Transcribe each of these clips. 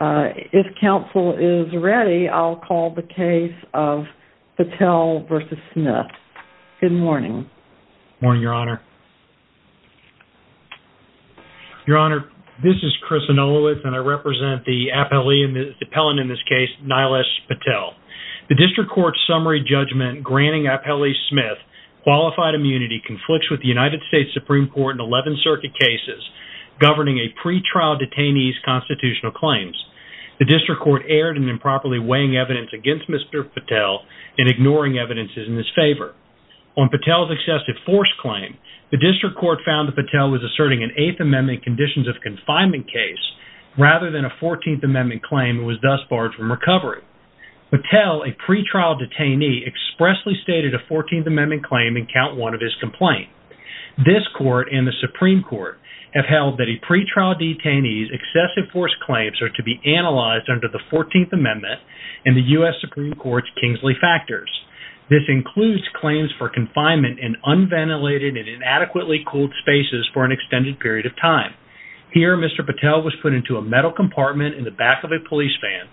If counsel is ready, I'll call the case of Patel v. Smith. Good morning. Morning, Your Honor. Your Honor, this is Chris Anolowitz, and I represent the appellant in this case, Nilesh Patel. The District Court's summary judgment granting Appellee Smith qualified immunity conflicts with the United States Supreme Court in 11 circuit cases governing a pretrial detainee's constitutional claims. The District Court erred in improperly weighing evidence against Mr. Patel and ignoring evidence in his favor. On Patel's excessive force claim, the District Court found that Patel was asserting an Eighth Amendment conditions of confinement case rather than a Fourteenth Amendment claim and was thus barred from recovery. Patel, a pretrial detainee, expressly stated a Fourteenth Amendment claim in count one of his complaint. This Court and the Supreme Court have to be analyzed under the Fourteenth Amendment and the U.S. Supreme Court's Kingsley factors. This includes claims for confinement in unventilated and inadequately cooled spaces for an extended period of time. Here, Mr. Patel was put into a metal compartment in the back of a police van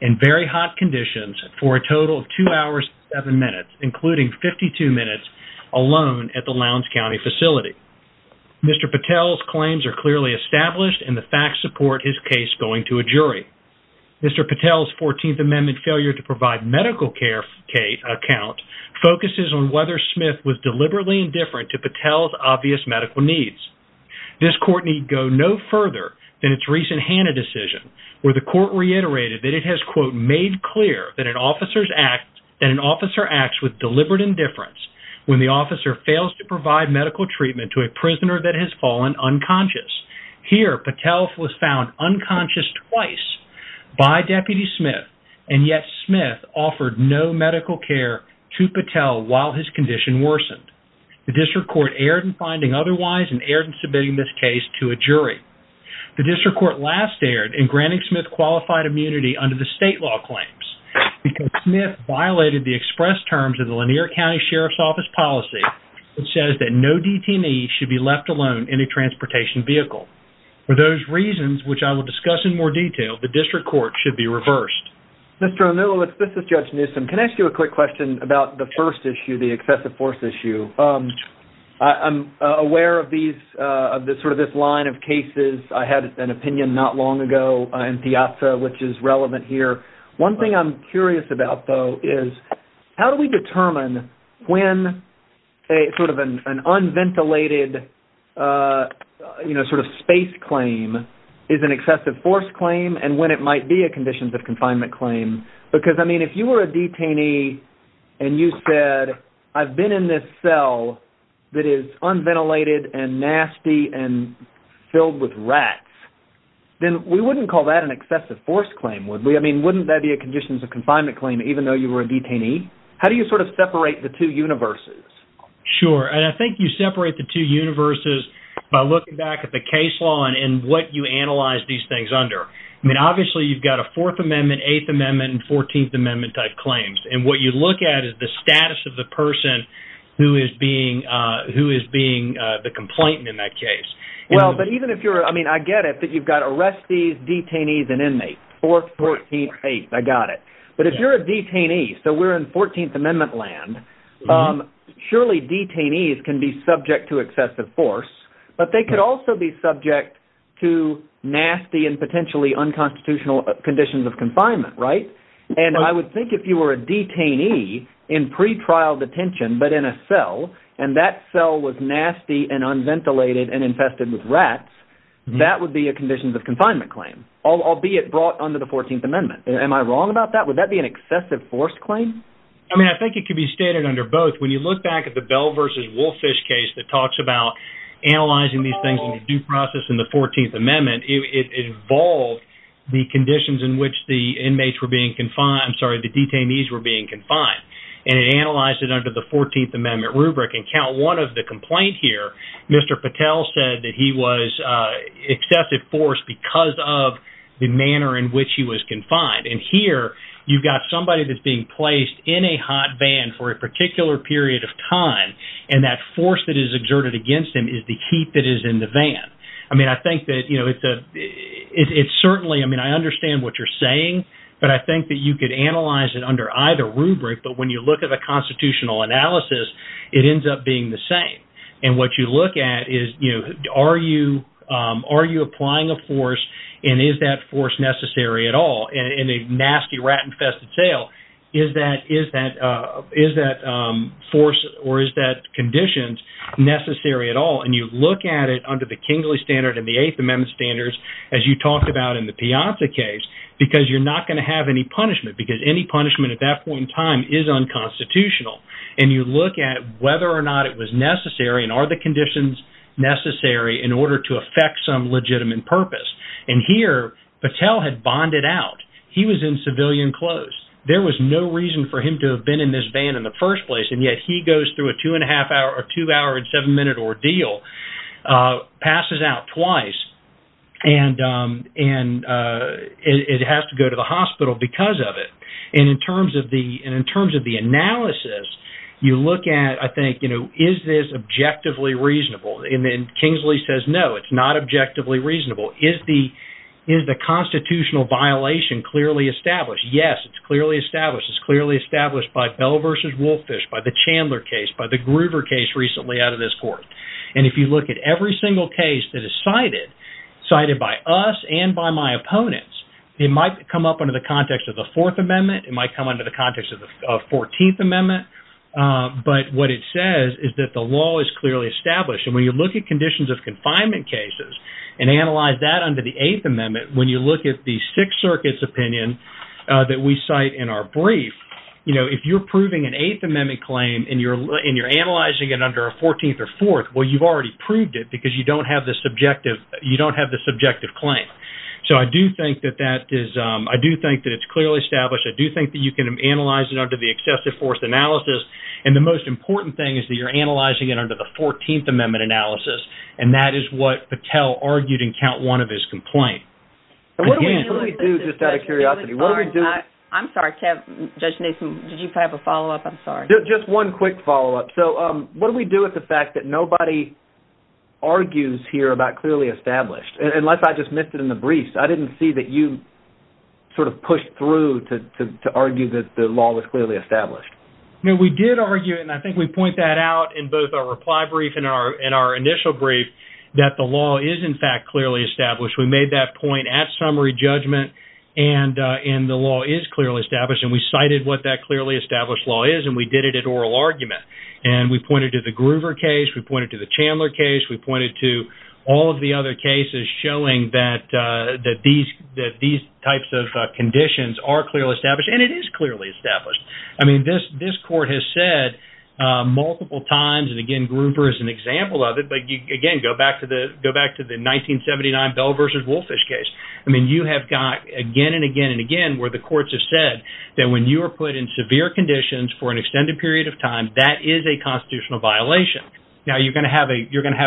in very hot conditions for a total of two hours and seven minutes, including 52 minutes alone at the Lowndes County facility. Mr. Patel's claims are clearly established, and the facts support his case going to a jury. Mr. Patel's Fourteenth Amendment failure to provide medical care account focuses on whether Smith was deliberately indifferent to Patel's obvious medical needs. This Court need go no further than its recent Hanna decision, where the Court reiterated that it has, quote, made clear that an officer acts with deliberate indifference when the officer fails to provide medical treatment to a prisoner that has fallen unconscious. Here, Patel was found unconscious twice by Deputy Smith, and yet Smith offered no medical care to Patel while his condition worsened. The District Court erred in finding otherwise and erred in submitting this case to a jury. The District Court last erred in granting Smith qualified immunity under the state law claims, because Smith violated the express terms of the Lanier County Sheriff's Office policy that says that no DTME should be left alone in a vehicle. For those reasons, which I will discuss in more detail, the District Court should be reversed. Mr. O'Millowitz, this is Judge Newsom. Can I ask you a quick question about the first issue, the excessive force issue? I'm aware of this line of cases. I had an opinion not long ago in Piazza, which is relevant here. One thing I'm curious about, though, is how do we determine when an unventilated space claim is an excessive force claim and when it might be a conditions of confinement claim? Because if you were a detainee and you said, I've been in this cell that is unventilated and nasty and filled with rats, then we wouldn't call that an excessive force claim, would we? Wouldn't that be a conditions of confinement claim even though you were a detainee? How do you sort of separate the two universes? Sure. And I think you separate the two universes by looking back at the case law and what you analyze these things under. I mean, obviously, you've got a Fourth Amendment, Eighth Amendment, and Fourteenth Amendment type claims. And what you look at is the status of the person who is being the complainant in that case. Well, but even if you're, I mean, I get it that you've got arrestees, detainees, and inmates, Fourth, Fourteenth, Eighth, I got it. But if you're a detainee, so we're in Fourteenth Amendment land, surely detainees can be subject to excessive force, but they could also be subject to nasty and potentially unconstitutional conditions of confinement, right? And I would think if you were a detainee in pretrial detention, but in a cell, and that cell was nasty and unventilated and under the Fourteenth Amendment. Am I wrong about that? Would that be an excessive force claim? I mean, I think it could be stated under both. When you look back at the Bell versus Wolfish case that talks about analyzing these things in due process in the Fourteenth Amendment, it involved the conditions in which the inmates were being confined, I'm sorry, the detainees were being confined. And it analyzed it under the Fourteenth Amendment rubric. And count one of the complaint here, Mr. Patel said that he was excessive force because of the manner in which he was confined. And here, you've got somebody that's being placed in a hot van for a particular period of time. And that force that is exerted against him is the heat that is in the van. I mean, I think that, you know, it's certainly, I mean, I understand what you're saying. But I think that you could analyze it under either rubric. But when you look at a constitutional analysis, it ends up being the same. And what you look at is, you know, are you applying a force? And is that force necessary at all? And in a nasty rat-infested sale, is that force or is that condition necessary at all? And you look at it under the Kingley Standard and the Eighth Amendment standards, as you talked about in the Piazza case, because you're not going to have any punishment, because any punishment at that point in time is unconstitutional. And you look at whether or not it was necessary and are the conditions necessary in order to affect some legitimate purpose? And here, Patel had bonded out. He was in civilian clothes. There was no reason for him to have been in this van in the first place. And yet he goes through a two and a half hour or two hour and seven minute ordeal, passes out twice, and it has to go to the hospital because of it. And in terms of the analysis, you look at, I think, you know, is this objectively reasonable? And Kingsley says, no, it's not objectively reasonable. Is the constitutional violation clearly established? Yes, it's clearly established. It's clearly established by Bell versus Wolfish, by the Chandler case, by the Gruber case recently out of this court. And if you look at every single case that is cited, cited by us and by my opponents, it might come up under the context of the Fourth Amendment. It might come under the context of the Fourteenth Amendment. But what it says is that the law is clearly established. And when you look at conditions of confinement cases and analyze that under the Eighth Amendment, when you look at the Sixth Circuit's opinion that we cite in our brief, you know, if you're proving an Eighth Amendment claim and you're analyzing it under a Fourteenth or Fourth, well, you've already proved it because you don't have the subjective, you don't have the subjective claim. So I do think that that is, I do think that it's clearly established. I do think that you can analyze it under the excessive force analysis. And the most important thing is that you're analyzing it under the Fourteenth Amendment analysis. And that is what Patel argued in count one of his complaint. What do we do just out of curiosity? What do we do? I'm sorry, Judge Nason, did you have a follow-up? I'm sorry. Just one quick follow-up. So what do we do with the fact that nobody argues here about clearly established? And unless I just missed it in the brief, I didn't see that you sort of pushed through to argue that the law was clearly established. No, we did argue, and I think we point that out in both our reply brief and our initial brief, that the law is in fact clearly established. We made that point at summary judgment and the law is clearly established. And we cited what that clearly established law is, we did it at oral argument. And we pointed to the Groover case, we pointed to the Chandler case, we pointed to all of the other cases showing that these types of conditions are clearly established. And it is clearly established. I mean, this court has said multiple times, and again, Groover is an example of it. But again, go back to the 1979 Bell v. Wolfish case. I mean, you have got again and again and again where the courts have said that when you are put in severe conditions for an extended period of time, that is a constitutional violation. Now, you're going to have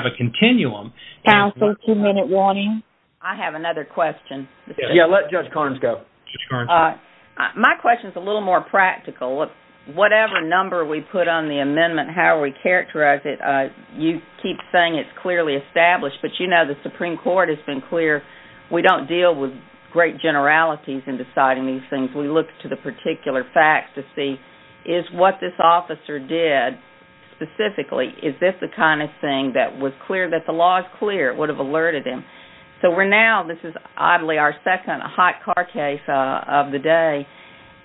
a continuum. Counsel, two-minute warning. I have another question. Yeah, let Judge Carnes go. My question is a little more practical. Whatever number we put on the amendment, how we characterize it, you keep saying it's clearly established. But you know, the Supreme Court has been clear, we don't deal with great generalities in deciding these things. We look to the particular facts to see, is what this officer did specifically, is this the kind of thing that was clear, that the law is clear, would have alerted him? So we're now, this is oddly our second hot car case of the day.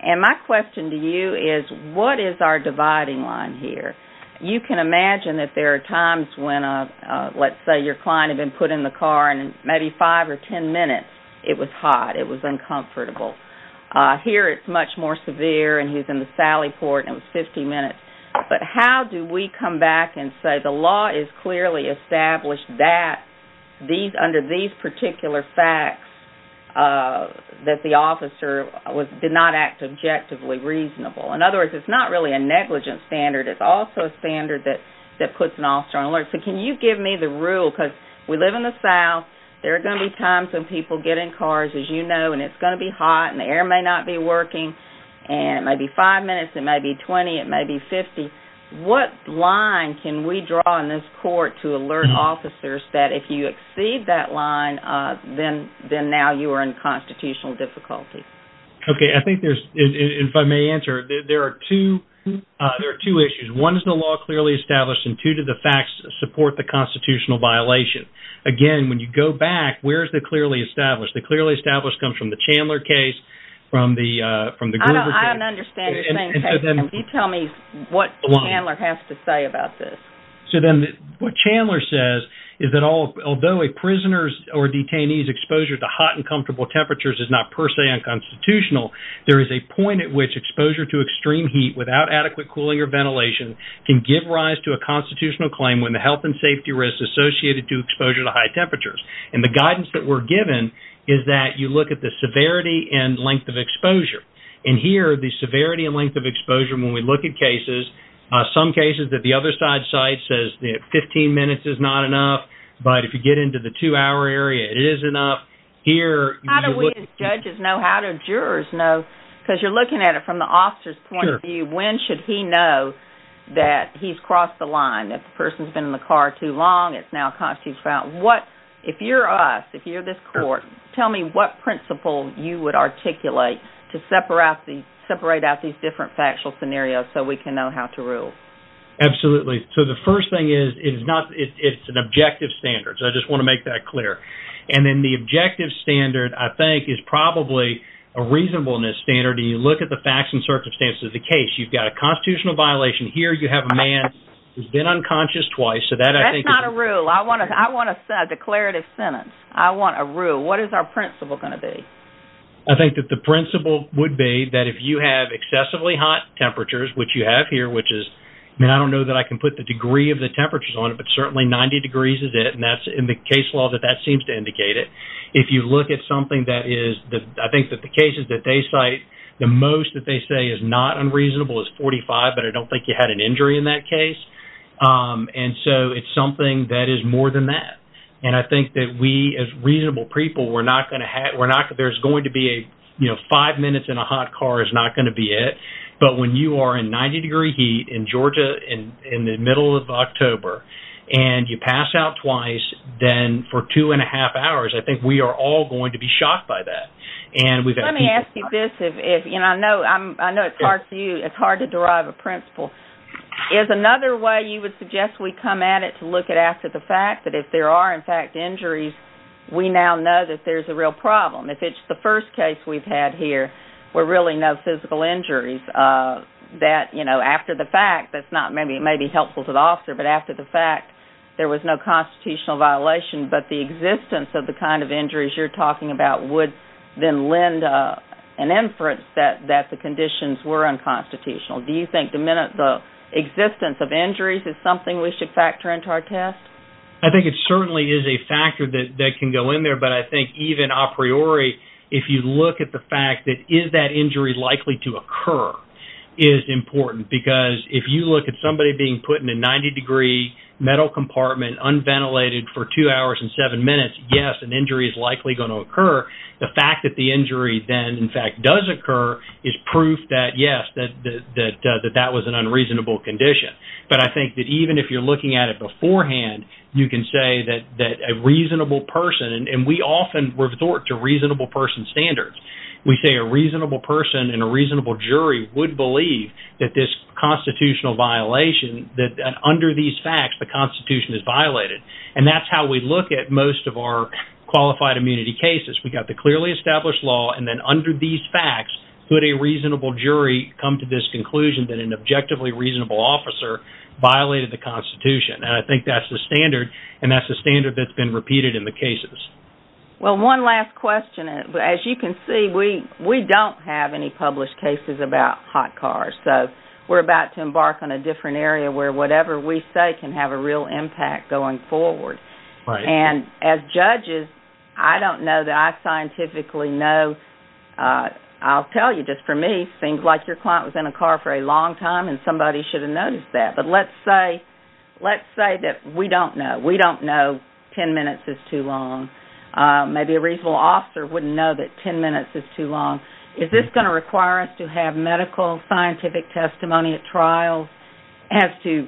And my question to you is, what is our dividing line here? You can imagine that there are times when, let's say, your client had been put in the car and maybe five or ten minutes, it was hot, it was uncomfortable. Here, it's much more severe and he's in the sally port and it was 50 minutes. But how do we come back and say, the law is clearly established that, under these particular facts, that the officer did not act objectively reasonable? In other words, it's not really a negligent standard, it's also a standard that puts an officer on alert. So can you give me the rule, because we live in the South, there are going to be times when people get in cars, as you know, and it's going to be hot and the air may not be working, and it may be five minutes, it may be 20, it may be 50. What line can we draw in this court to alert officers that if you exceed that line, then now you are in constitutional difficulty? Okay, I think there's, if I may answer, there are two issues. One is the law clearly established and two to the facts support the constitutional violation. Again, when you go back, where's the established? The clearly established comes from the Chandler case, from the Gruber case. I don't understand the same thing. Can you tell me what Chandler has to say about this? So then what Chandler says is that although a prisoner's or detainee's exposure to hot and comfortable temperatures is not per se unconstitutional, there is a point at which exposure to extreme heat without adequate cooling or ventilation can give rise to a constitutional claim when the health and safety risks associated to exposure to high temperatures. And the guidance that we're given is that you look at the severity and length of exposure. And here, the severity and length of exposure, when we look at cases, some cases that the other side cites says that 15 minutes is not enough, but if you get into the two-hour area, it is enough. How do we as judges know? How do jurors know? Because you're looking at it from the officer's point of view. When should he know that he's crossed the line, that the person's been in the car too long, it's now a constitutional violation? If you're us, if you're this court, tell me what principle you would articulate to separate out these different factual scenarios so we can know how to rule. Absolutely. So the first thing is, it's an objective standard. So I just want to make that clear. And then the objective standard, I think, is probably a reasonableness standard. And you look at the facts and circumstances of the case. You've got a constitutional violation here. You have a man who's been unconscious twice. That's not a rule. I want a declarative sentence. I want a rule. What is our principle going to be? I think that the principle would be that if you have excessively hot temperatures, which you have here, which is, I don't know that I can put the degree of the temperatures on it, but certainly 90 degrees is it. And that's in the case law that that seems to indicate it. If you look at something that is, I think that the cases that they cite, the most that they say is not unreasonable is 45, but I don't think you had an injury in that case. And so it's something that is more than that. And I think that we as reasonable people, we're not going to have, we're not, there's going to be a, you know, five minutes in a hot car is not going to be it. But when you are in 90 degree heat in Georgia in the middle of October, and you pass out twice, then for two and a half hours, I think we are all going to be shocked by that. And let me ask you this, if, you know, I know it's hard for you, it's hard to derive a principle. Is another way you would suggest we come at it to look at after the fact that if there are in fact injuries, we now know that there's a real problem. If it's the first case we've had here, we're really no physical injuries that, you know, after the fact, that's not maybe, it may be helpful to the officer, but after the fact there was no constitutional violation, but the existence of the kind of injuries you're talking about would then lend an inference that, that the conditions were unconstitutional. Do you think the minute the existence of injuries is something we should factor into our test? I think it certainly is a factor that can go in there, but I think even a priori, if you look at the fact that is that injury likely to occur is important. Because if you look at somebody being put in a 90 degree metal compartment unventilated for two hours and seven minutes, yes, an injury is likely going to occur. The fact that the injury then in fact does occur is proof that yes, that, that, that, that that was an unreasonable condition. But I think that even if you're looking at it beforehand, you can say that, that a reasonable person, and we often resort to reasonable person standards. We say a reasonable person and a reasonable jury would believe that this constitutional violation that under these facts, the constitution is violated. And that's how we look at most of our clearly established law. And then under these facts, could a reasonable jury come to this conclusion that an objectively reasonable officer violated the constitution. And I think that's the standard. And that's the standard that's been repeated in the cases. Well, one last question, as you can see, we, we don't have any published cases about hot cars. So we're about to embark on a different area where whatever we say can have a real impact going forward. And as judges, I don't know that I scientifically know. I'll tell you, just for me, seems like your client was in a car for a long time and somebody should have noticed that. But let's say, let's say that we don't know. We don't know 10 minutes is too long. Maybe a reasonable officer wouldn't know that 10 minutes is too long. Is this going to require us to have medical scientific testimony at trial as to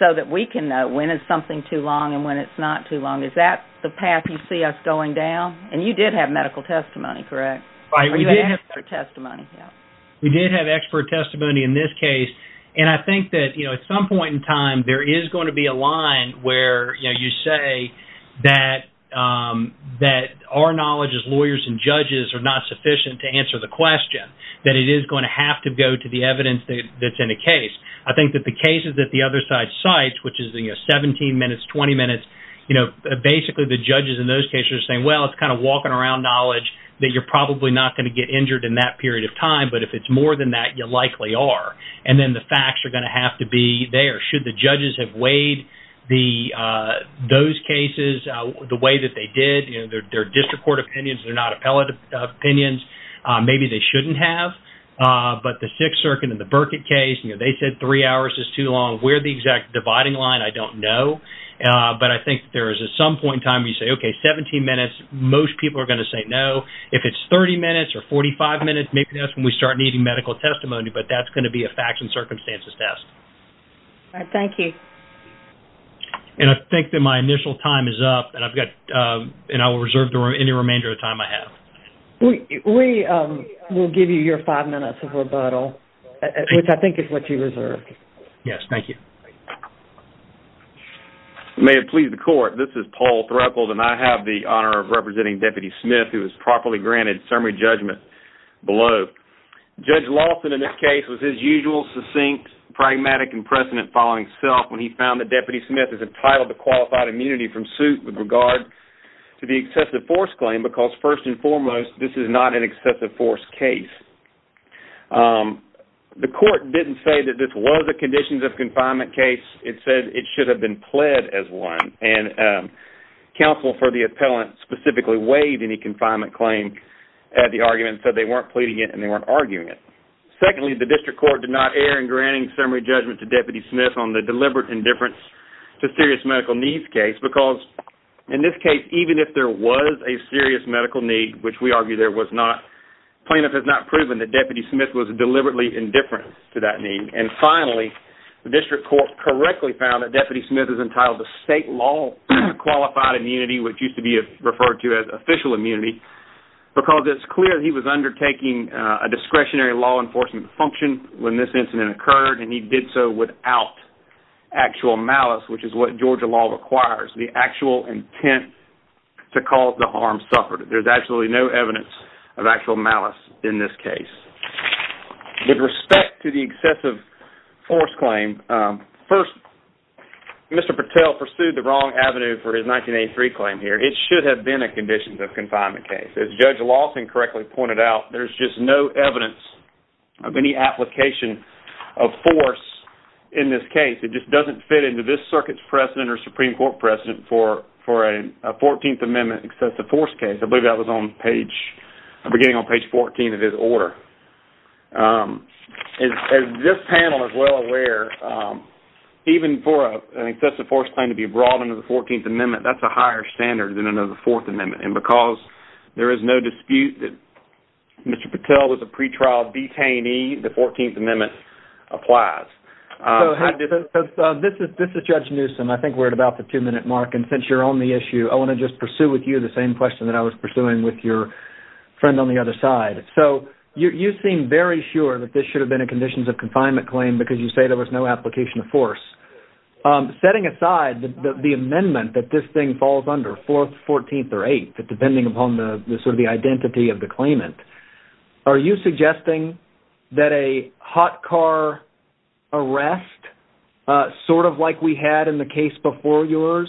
so that we can know when it's something too long and when it's not too long? Is that the path you see us going down? And you did have medical testimony, correct? Or you had expert testimony? We did have expert testimony in this case. And I think that, you know, at some point in time, there is going to be a line where, you know, you say that, that our knowledge as lawyers and judges are not sufficient to answer the question, that it is going to have to go to the evidence that's in a case. I think that the cases that other side cites, which is the, you know, 17 minutes, 20 minutes, you know, basically the judges in those cases are saying, well, it's kind of walking around knowledge that you're probably not going to get injured in that period of time. But if it's more than that, you likely are. And then the facts are going to have to be there. Should the judges have weighed the, those cases the way that they did, you know, their district court opinions, they're not appellate opinions, maybe they shouldn't have. But the Sixth Circuit in the exact dividing line, I don't know. But I think there is at some point in time, you say, okay, 17 minutes, most people are going to say no. If it's 30 minutes or 45 minutes, maybe that's when we start needing medical testimony, but that's going to be a facts and circumstances test. All right. Thank you. And I think that my initial time is up and I've got, and I will reserve the any remainder of time I have. We will give you your five minutes of rebuttal, which I think is what you reserved. Yes. Thank you. May it please the court. This is Paul Throckold and I have the honor of representing Deputy Smith, who is properly granted summary judgment below. Judge Lawson, in this case, was his usual, succinct, pragmatic and precedent following self when he found that Deputy Smith is entitled to qualified immunity from suit with regard to the excessive force claim, because first and foremost, this is not an excessive force case. The court didn't say that this was a conditions of confinement case. It said it should have been pled as one. And counsel for the appellant specifically waived any confinement claim at the argument, said they weren't pleading it and they weren't arguing it. Secondly, the district court did not err in granting summary judgment to Deputy Smith on the deliberate indifference to serious medical needs case, because in this case, even if there was a serious medical need, which we argue there was not, plaintiff has not proven that Deputy Smith was deliberately indifferent to that need. And finally, the district court correctly found that Deputy Smith is entitled to state law qualified immunity, which used to be referred to as official immunity, because it's clear that he was undertaking a discretionary law enforcement function when this incident occurred. And he did so without actual malice, which is what Georgia law requires, the actual intent to cause the harm suffered. There's actually no evidence of actual malice in this case. With respect to the excessive force claim, first, Mr. Patel pursued the wrong avenue for his 1983 claim here. It should have been a conditions of confinement case. As Judge Lawson correctly pointed out, there's just no evidence of any precedent or Supreme Court precedent for a 14th Amendment excessive force case. I believe that was beginning on page 14 of his order. As this panel is well aware, even for an excessive force claim to be brought under the 14th Amendment, that's a higher standard than under the 4th Amendment. And because there is no dispute that Mr. Patel was a pretrial detainee, the 14th Amendment applies. So this is Judge Newsom. I think we're at about the two-minute mark. And since you're on the issue, I want to just pursue with you the same question that I was pursuing with your friend on the other side. So you seem very sure that this should have been a conditions of confinement claim because you say there was no application of force. Setting aside the amendment that this thing falls under, 4th, 14th, or 8th, depending upon the sort of the identity of the arrest, sort of like we had in the case before yours,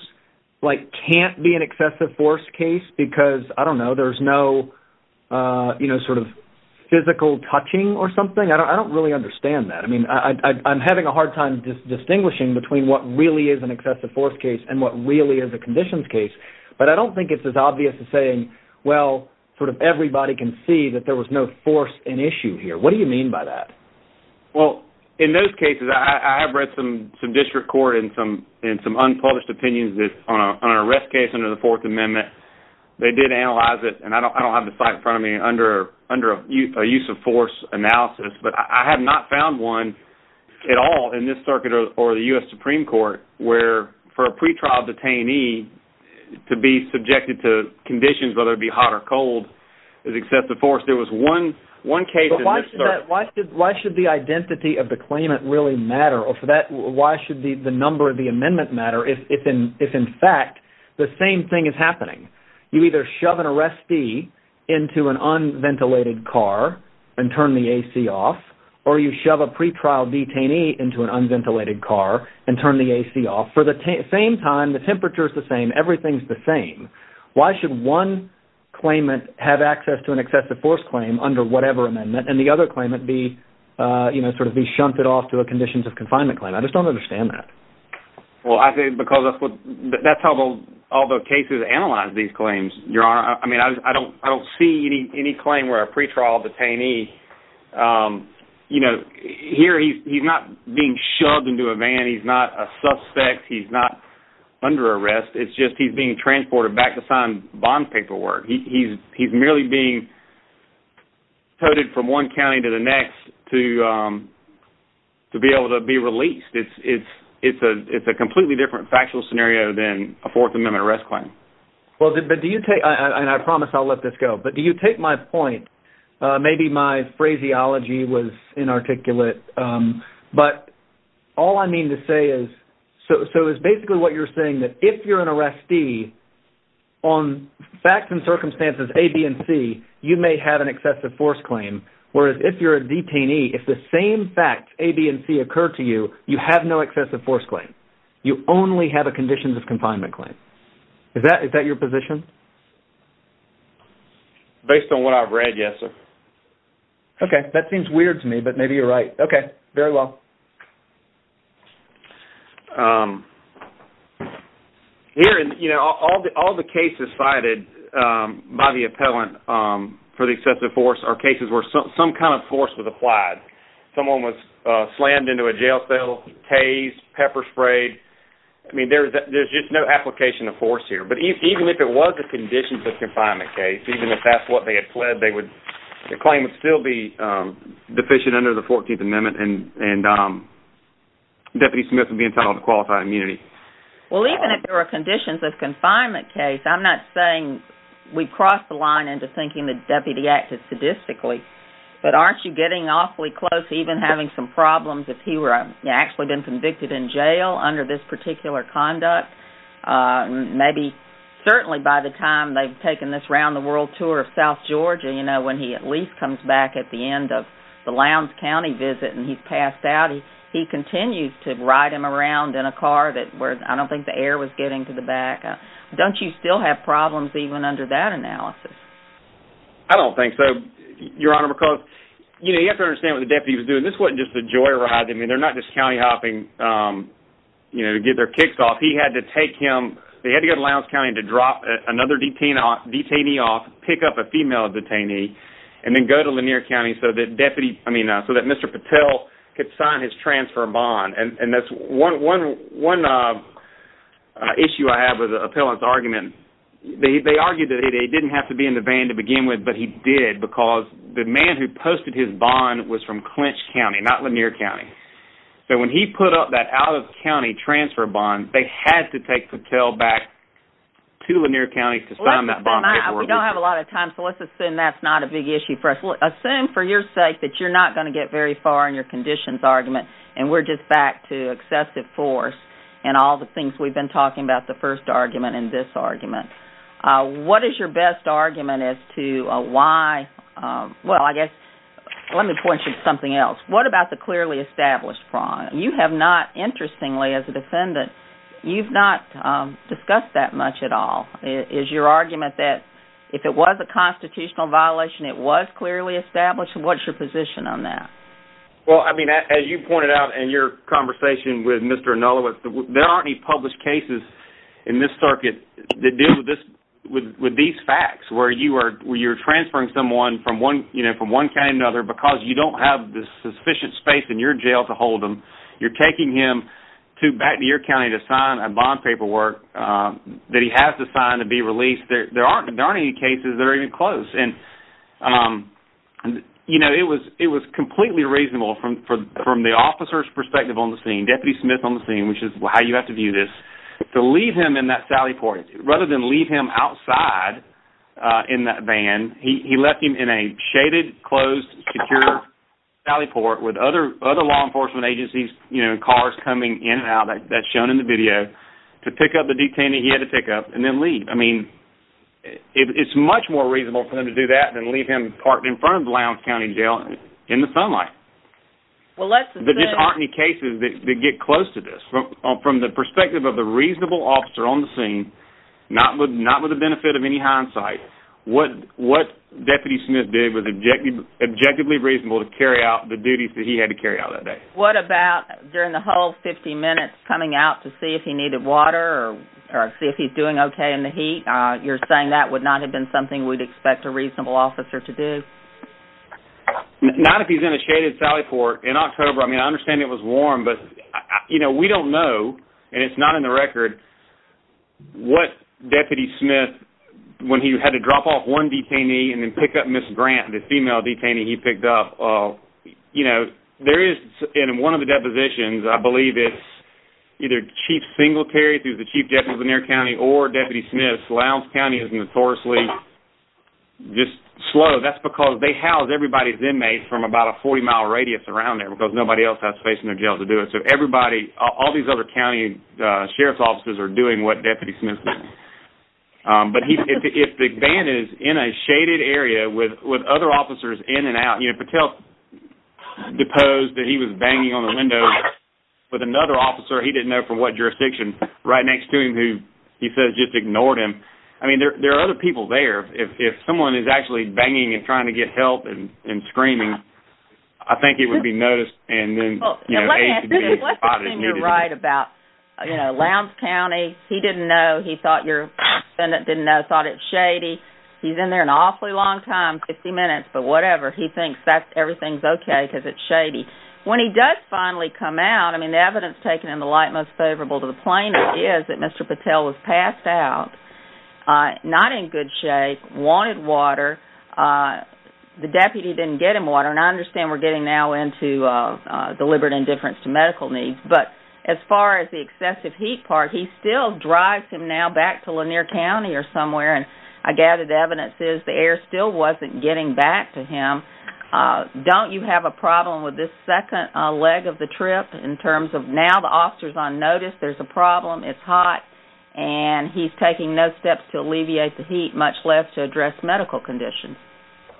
like can't be an excessive force case because, I don't know, there's no, you know, sort of physical touching or something. I don't really understand that. I mean, I'm having a hard time distinguishing between what really is an excessive force case and what really is a conditions case. But I don't think it's as obvious as saying, well, sort of everybody can see that there was no force in issue here. What do you mean by that? Well, in those cases, I have read some district court and some unpublished opinions on an arrest case under the Fourth Amendment. They did analyze it, and I don't have the site in front of me, under a use of force analysis. But I have not found one at all in this circuit or the U.S. Supreme Court where, for a pretrial detainee to be subjected to conditions, whether it be hot or cold, why should the identity of the claimant really matter? Or for that, why should the number of the amendment matter if, in fact, the same thing is happening? You either shove an arrestee into an unventilated car and turn the A.C. off, or you shove a pretrial detainee into an unventilated car and turn the A.C. off. For the same time, the temperature is the same. Everything is the same. Why should one claimant have access to an excessive force claim under whatever amendment and the other claimant be sort of be shunted off to a conditions of confinement claim? I just don't understand that. Well, I think because that's how all the cases analyze these claims, Your Honor. I mean, I don't see any claim where a pretrial detainee, you know, here he's not being shoved into a van. He's not a suspect. He's not under arrest. It's just he's being transported back to sign bond paperwork. He's merely being coded from one county to the next to be able to be released. It's a completely different factual scenario than a Fourth Amendment arrest claim. Well, but do you take, and I promise I'll let this go, but do you take my point, maybe my phraseology was inarticulate, but all I mean to say is, so it's basically what you're saying that if you're an arrestee on facts and circumstances A, B, and C, you may have an excessive force claim, whereas if you're a detainee, if the same facts A, B, and C occur to you, you have no excessive force claim. You only have a conditions of confinement claim. Is that your position? Based on what I've read, yes, sir. Okay, that seems weird to me, but maybe you're right. Okay, um, for the excessive force are cases where some kind of force was applied. Someone was slammed into a jail cell, tased, pepper sprayed. I mean, there's just no application of force here. But even if it was a conditions of confinement case, even if that's what they had pled, the claim would still be deficient under the 14th Amendment and Deputy Smith would be entitled to qualified immunity. Well, even if there were conditions of confinement case, I'm not saying we've crossed the line into thinking the deputy acted sadistically, but aren't you getting awfully close to even having some problems if he were actually been convicted in jail under this particular conduct? Maybe certainly by the time they've taken this round the world tour of South Georgia, you know, when he at least comes back at the end of the Lowndes County visit and he's passed out, he continues to ride him around in a car that where I don't think the air was getting to the back. Don't you still have problems even under that analysis? I don't think so, Your Honor, because, you know, you have to understand what the deputy was doing. This wasn't just a joy ride. I mean, they're not just county hopping, you know, to get their kicks off. He had to take him, they had to go to Lowndes County to drop another detainee off, pick up a female detainee, and then go to Lanier County so that deputy, I mean, so that Mr. Patel could sign his transfer bond. And that's one issue I have with the appellant's argument. They argued that he didn't have to be in the van to begin with, but he did because the man who posted his bond was from Clinch County, not Lanier County. So when he put up that out-of-county transfer bond, they had to take Patel back to Lanier County to sign that bond. We don't have a lot of time, so let's assume that's not a big issue for us. Assume for your sake that you're not going to get very far in your conditions argument, and we're just back to excessive force and all the things we've been talking about the first argument and this argument. What is your best argument as to why, well, I guess, let me point you to something else. What about the clearly established fraud? You have not, interestingly, as a defendant, you've not discussed that much at all. Is your argument that if it was a constitutional violation, it was clearly established? What's your position on that? Well, I mean, as you pointed out in your conversation with Mr. Anulowicz, there aren't any published cases in this circuit that deal with these facts where you're transferring someone from one county to another because you don't have the sufficient space in your jail to hold them. You're taking him back to your county to sign a bond paperwork that he has to sign to be released. There aren't any cases that are even close. It was completely reasonable from the officer's perspective on the scene, Deputy Smith on the scene, which is how you have to view this, to leave him in that sally port. Rather than leave him outside in that van, he left him in a shaded, closed, secure sally port with other law enforcement agencies, cars coming in and out, that's shown in the video, to pick up the detainee he had to pick up and then leave. I mean, it's much more reasonable for them to do that than leave him parked in front of Lowndes County Jail in the sunlight. There just aren't any cases that get close to this. From the perspective of the reasonable officer on the scene, not with the benefit of any hindsight, what Deputy Smith did was objectively reasonable to carry out the duties that he had to carry out that day. What about during the whole 50 minutes coming out to see if he needed water or see if he's doing okay in the heat? You're saying that would not have been something we'd expect a reasonable officer to do? Not if he's in a shaded sally port. In October, I mean, I understand it was warm, but we don't know, and it's not in the record, what Deputy Smith, when he had to drop off one detainee and then pick up Ms. Grant, the female detainee he picked up, there is, in one of the depositions, I believe it's either Chief Singletary, who's the Chief Justice of Lanier County, or Deputy Smith. Lowndes County is notoriously just slow. That's because they house everybody's inmates from about a 40-mile radius around there, because nobody else has space in their jail to do it. So everybody, all these other county sheriff's officers are doing what Deputy Smith did. But if the van is in a shaded area with other officers in and out, you know, Patel deposed that he was banging on the window with another officer he didn't know from what jurisdiction, right next to him, who he says just ignored him. I mean, there are other people there. If someone is actually banging and trying to get help and screaming, I think it would be noticed and then, you know, a spot is needed. Let's assume you're right about, you know, Lowndes County, he didn't know, he thought your defendant didn't know, thought it's shady. He's in there an awfully long time, 50 minutes, but whatever, he thinks everything's okay because it's shady. When he does finally come out, I mean, the evidence taken in the light most favorable to the plaintiff is that Mr. Patel was passed out, not in good shape, wanted water. The deputy didn't get him water. And I understand we're getting now into deliberate indifference to medical needs. But as far as the excessive heat part, he still drives him now back to Lanier County or somewhere. And I gathered the evidence is the air still wasn't getting back to him. Don't you have a problem with this second leg of the trip in terms of now the officer's on notice, there's a problem, it's hot, and he's taking no steps to alleviate the heat, much less to address medical conditions?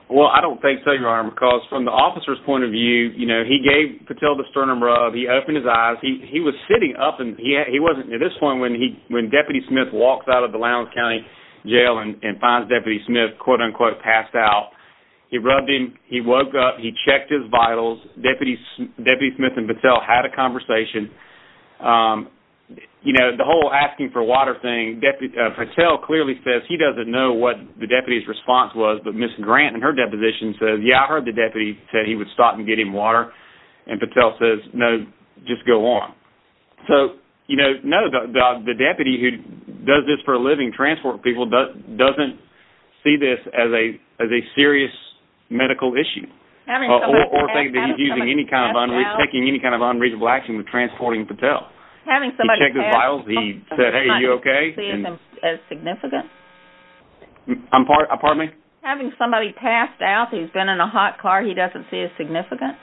Well, I don't think so, Your Honor, because from the officer's point of view, you know, he gave Patel the sternum rub, he opened his eyes, he was sitting up and he wasn't, at this point, when he, when Deputy Smith walks out of the Lowndes County jail and finds Deputy Smith, quote unquote, passed out, he rubbed him, he woke up, he checked his vitals, Deputy Smith and Patel had a conversation. You know, the whole asking for water thing, Patel clearly says he doesn't know what the deputy's response was, but Ms. Grant, in her deposition, says, yeah, I heard the deputy said he would stop and get him water, and Patel says, no, just go on. So, you know, no, the deputy who does this for a living, transport people, doesn't see this as a serious medical issue, or think that he's using any kind of unreasonable, taking any kind of unreasonable action with transporting Patel. He checked his vitals, he said, hey, are you okay? As significant? I'm, pardon me? Having somebody passed out, he's been in a hot car, he doesn't see as significant?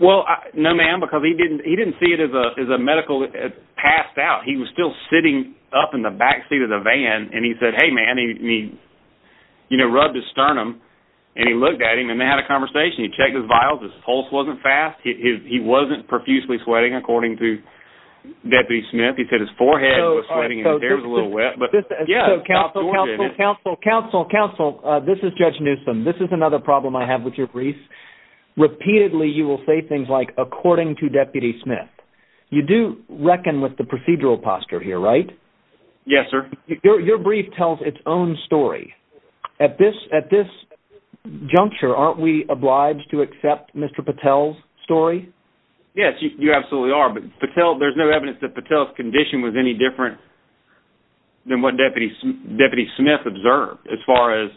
Well, no, ma'am, because he didn't, he didn't see it as a, as a medical, passed out. He was still sitting up in the backseat of the van, and he said, hey, man, he, you know, rubbed his sternum, and he looked at him, and they had a conversation. He checked his vitals, his pulse wasn't fast, he wasn't profusely sweating, according to Deputy Smith. He said his forehead was sweating, and his hair was a little wet, but yeah. Counsel, counsel, counsel, this is Judge Newsom. This is another problem I have with your brief. Repeatedly, you will say things like, according to Deputy Smith. You do reckon with the procedural posture here, right? Yes, sir. Your brief tells its own story. At this, at this juncture, aren't we obliged to accept Mr. Patel's story? Yes, you absolutely are, but Patel, there's no evidence that Patel's condition was any different than what Deputy, Deputy Smith observed, as far as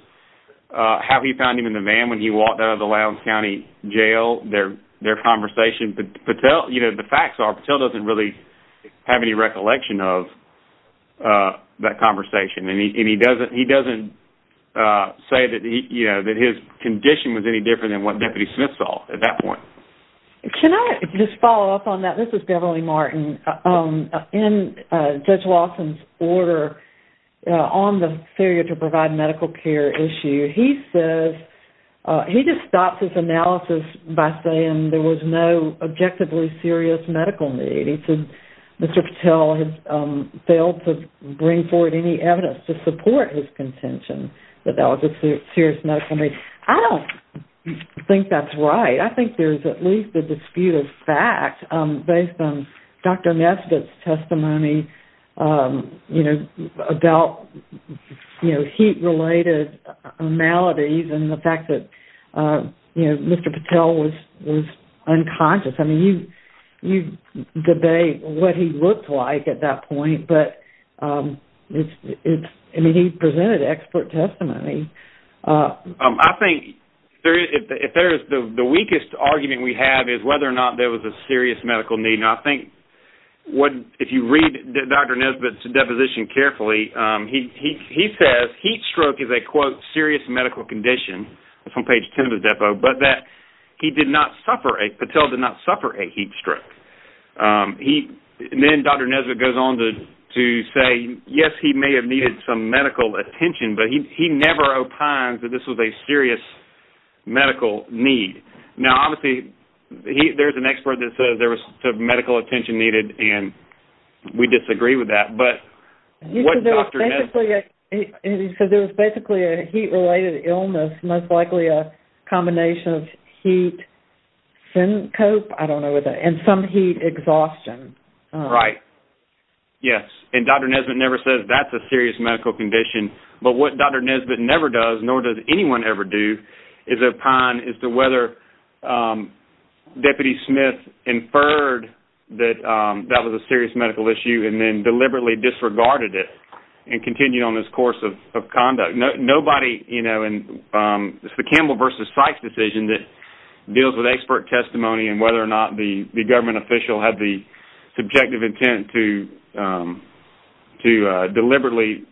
how he found him in the van when he walked out of the Lowndes County jail, their, their conversation. But Patel, you know, the facts are, Patel doesn't really have any recollection of that conversation, and he, and he doesn't, he doesn't say that he, you know, that his condition was any different than what Deputy Smith saw at that point. Can I just follow up on that? This is Beverly Martin. In Judge Lawson's order on the failure to provide medical care issue, he says, he just stops his analysis by saying there was no objectively serious medical need. He said Mr. Patel has failed to bring forward any evidence to support his contention that that was a serious medical need. I don't think that's right. I think there's at least a dispute of fact based on Dr. Nesbitt's testimony, you know, about, you know, heat-related maladies and the fact that, you know, Mr. Patel was, was unconscious. I mean, you, you debate what he looked like at that point, but it's, it's, I mean, he presented expert testimony. I think there is, if there is, the weakest argument we have is whether or not there was a serious medical need, and I think what, if you read Dr. Nesbitt's deposition carefully, he, he, he says heat stroke is a, quote, serious medical condition. It's on page 10 of the depot, but that he did not suffer, Patel did not suffer a heat stroke. He, and then Dr. Nesbitt goes on to, to say, yes, he may have needed some medical attention, but he, he never opines that this was a serious medical need. Now, obviously, he, there's an expert that says there was some medical attention needed, and we disagree with that, but what Dr. Nesbitt... He said there was basically a heat-related illness, most likely a combination of heat syncope, I don't know what that, and some heat exhaustion. Right. Yes, and Dr. Nesbitt never says that's a serious medical condition, but what Dr. Nesbitt never does, nor does anyone ever do, is opine as to whether Deputy Smith inferred that that was a serious medical issue and then deliberately disregarded and continued on this course of conduct. Nobody, you know, and it's the Campbell versus Sykes decision that deals with expert testimony and whether or not the, the government official had the subjective intent to, to deliberately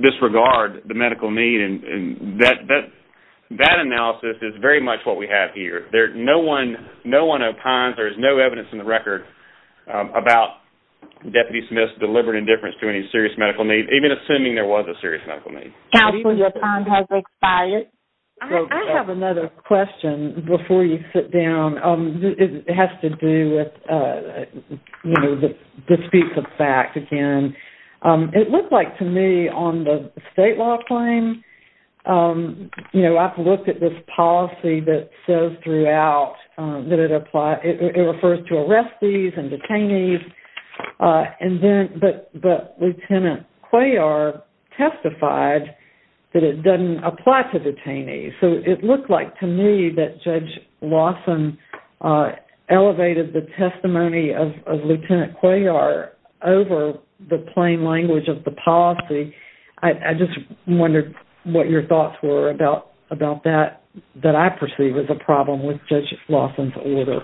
disregard the medical need, and that, that, that analysis is very much what we have here. There's no one, no one opines, there's no evidence in the record about Deputy Smith's deliberate indifference to any serious medical need, even assuming there was a serious medical need. Counsel, your time has expired. I have another question before you sit down. It has to do with, you know, the, the speaks of fact again. It looked like to me on the state law claim, you know, I've looked at this policy that says throughout that it applies, it refers to arrestees and detainees, and then, but, but Lieutenant Cuellar testified that it doesn't apply to detainees. So it looked like to me that Judge Lawson elevated the testimony of, of Lieutenant Cuellar over the plain language of the policy. I, I just wondered what your thoughts were about, about that, that I perceive as a problem with Judge Lawson's order.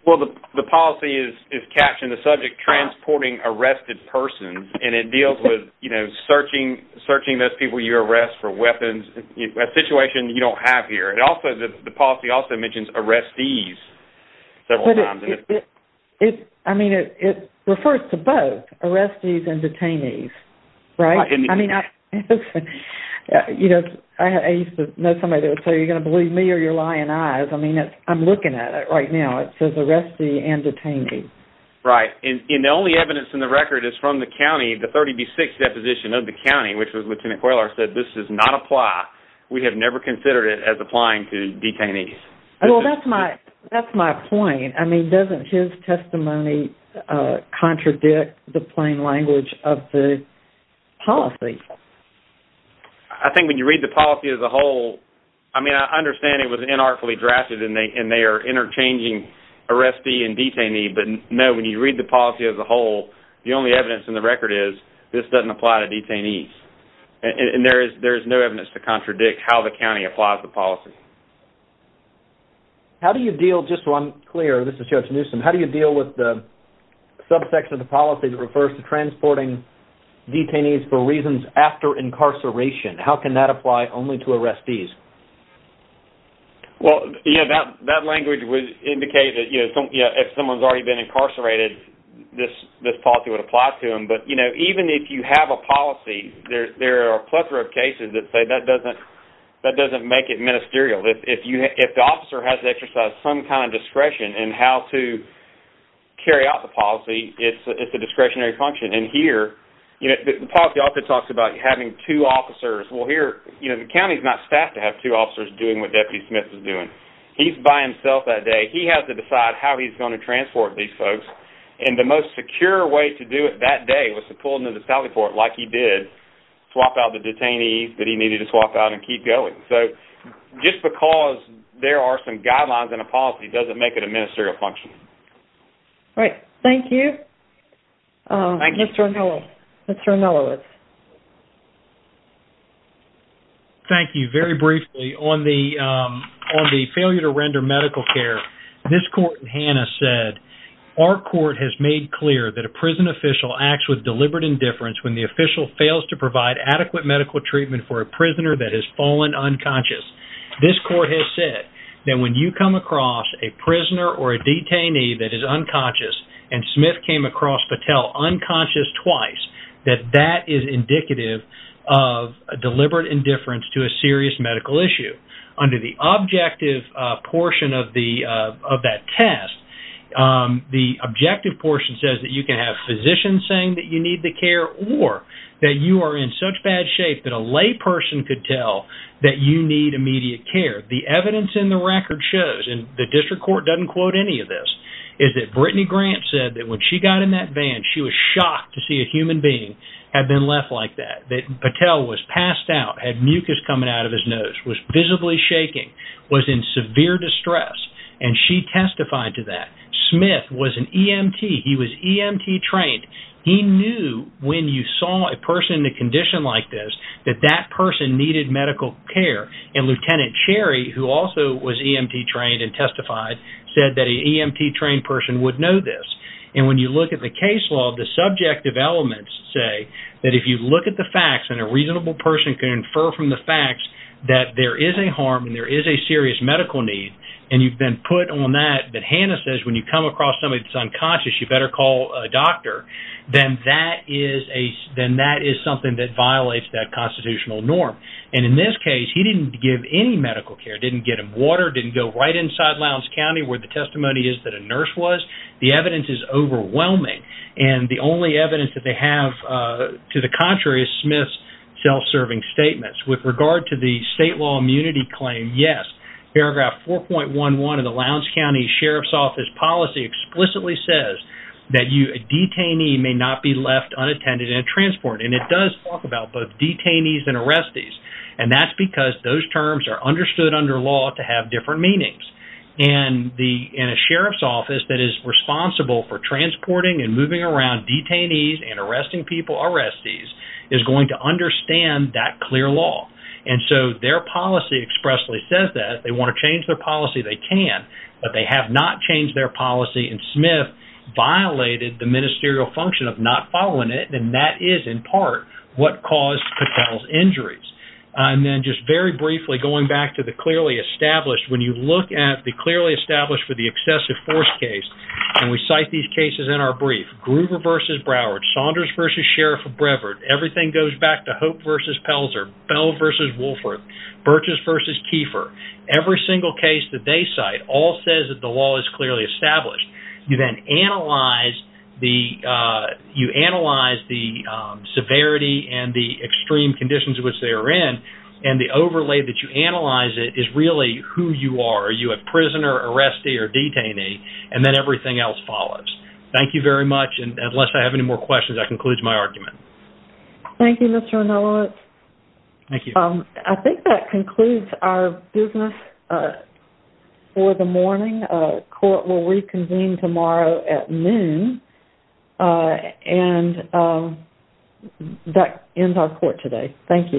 Well, the, the policy is, is captioned the subject, transporting arrested persons, and it deals with, you know, searching, searching those people you arrest for weapons, a situation you don't have here. It also, the policy also mentions arrestees several times. But it, it, I mean, it, it refers to both, arrestees and detainees, right? I mean, I, you know, I used to know somebody that would say, you're going to believe me or you're lying eyes. I mean, it's, I'm looking at it right now. It says arrestee and detainee. Right. And, and the only evidence in the record is from the county, the 30B6 deposition of the county, which was Lieutenant Cuellar said, this does not apply. We have never considered it as applying to detainees. Well, that's my, that's my point. I mean, doesn't his testimony contradict the plain language of the policy? I think when you read the policy as a whole, I mean, I understand it was inartfully drafted and they, and they are interchanging arrestee and detainee, but no, when you read the policy as a whole, the only evidence in the record is this doesn't apply to detainees. And there is, there is no evidence to contradict how the county applies the policy. How do you deal, just so I'm clear, this is Judge Newsom. How do you deal with the subsection of the policy that refers to transporting detainees for reasons after incarceration? How can that apply only to arrestees? Well, yeah, that, that language would indicate that, you know, if someone's already been incarcerated, this, this policy would apply to them. But, you know, even if you have a policy, there, there are a plethora of cases that say that doesn't, that doesn't make it ministerial. If, if you, if the officer has to exercise some kind of discretion in how to carry out the policy, it's, it's a discretionary function. And here, you know, the policy often talks about having two officers. Well, here, you know, the county's not staffed to have two officers doing what Deputy Smith is doing. He's by himself that day. He has to decide how he's going to transport these folks. And the most secure way to do it that day was to pull into the salary port like he did, swap out the detainees that he needed to swap out and keep going. So, just because there are some guidelines in a policy doesn't make it a ministerial function. All right. Thank you. Thank you. Mr. O'Mellow. Mr. O'Mellow. Thank you. Very briefly, on the, on the failure to render medical care, this court in Hannah said, our court has made clear that a prison official acts with deliberate indifference when the official is unconscious. This court has said that when you come across a prisoner or a detainee that is unconscious, and Smith came across Patel unconscious twice, that that is indicative of deliberate indifference to a serious medical issue. Under the objective portion of the, of that test, the objective portion says that you can have physicians saying that you need the care or that you are in such bad shape that a lay person could tell that you need immediate care. The evidence in the record shows, and the district court doesn't quote any of this, is that Brittany Grant said that when she got in that van, she was shocked to see a human being had been left like that, that Patel was passed out, had mucus coming out of his nose, was visibly shaking, was in severe distress, and she testified to that. Smith was an EMT. He was EMT trained. He knew when you saw a person in a condition like this, that that person needed medical care. And Lieutenant Cherry, who also was EMT trained and testified, said that an EMT trained person would know this. And when you look at the case law, the subjective elements say that if you look at the facts and a reasonable person can infer from the facts that there is a harm and there is a serious medical need, and you've been put on that, that Hannah says when you come across somebody that's unconscious, you better call a doctor, then that is something that violates that constitutional norm. And in this case, he didn't give any medical care, didn't get him water, didn't go right inside Lowndes County where the testimony is that a nurse was. The evidence is overwhelming. And the only evidence that they have to the contrary is Smith's self-serving statements. With regard to the state law immunity claim, yes, paragraph 4.11 of the Lowndes County Sheriff's Office policy explicitly says that a detainee may not be left unattended in a transport. And it does talk about both detainees and arrestees. And that's because those terms are understood under law to have different meanings. And a sheriff's office that is responsible for transporting and moving around detainees and arresting people, arrestees, is going to understand that clear law. And so their policy expressly says that if they want to change their policy, they can, but they have not changed their policy. And Smith violated the ministerial function of not following it. And that is in part what caused Patel's injuries. And then just very briefly, going back to the clearly established, when you look at the clearly established for the excessive force case, and we cite these cases in our brief, Gruber versus Broward, Saunders versus Sheriff of Brevard, everything goes back to Hope versus Pelzer, Bell versus Woolforth, Burchess versus Kieffer. Every single case that they cite all says that the law is clearly established. You then analyze the severity and the extreme conditions in which they are in, and the overlay that you analyze it is really who you are. Are you a prisoner, arrestee, or detainee? And then everything else follows. Thank you very much. And unless I have any more questions, I conclude my argument. Thank you, Mr. O'Neillowitz. I think that concludes our business for the morning. Court will reconvene tomorrow at noon, and that ends our court today. Thank you.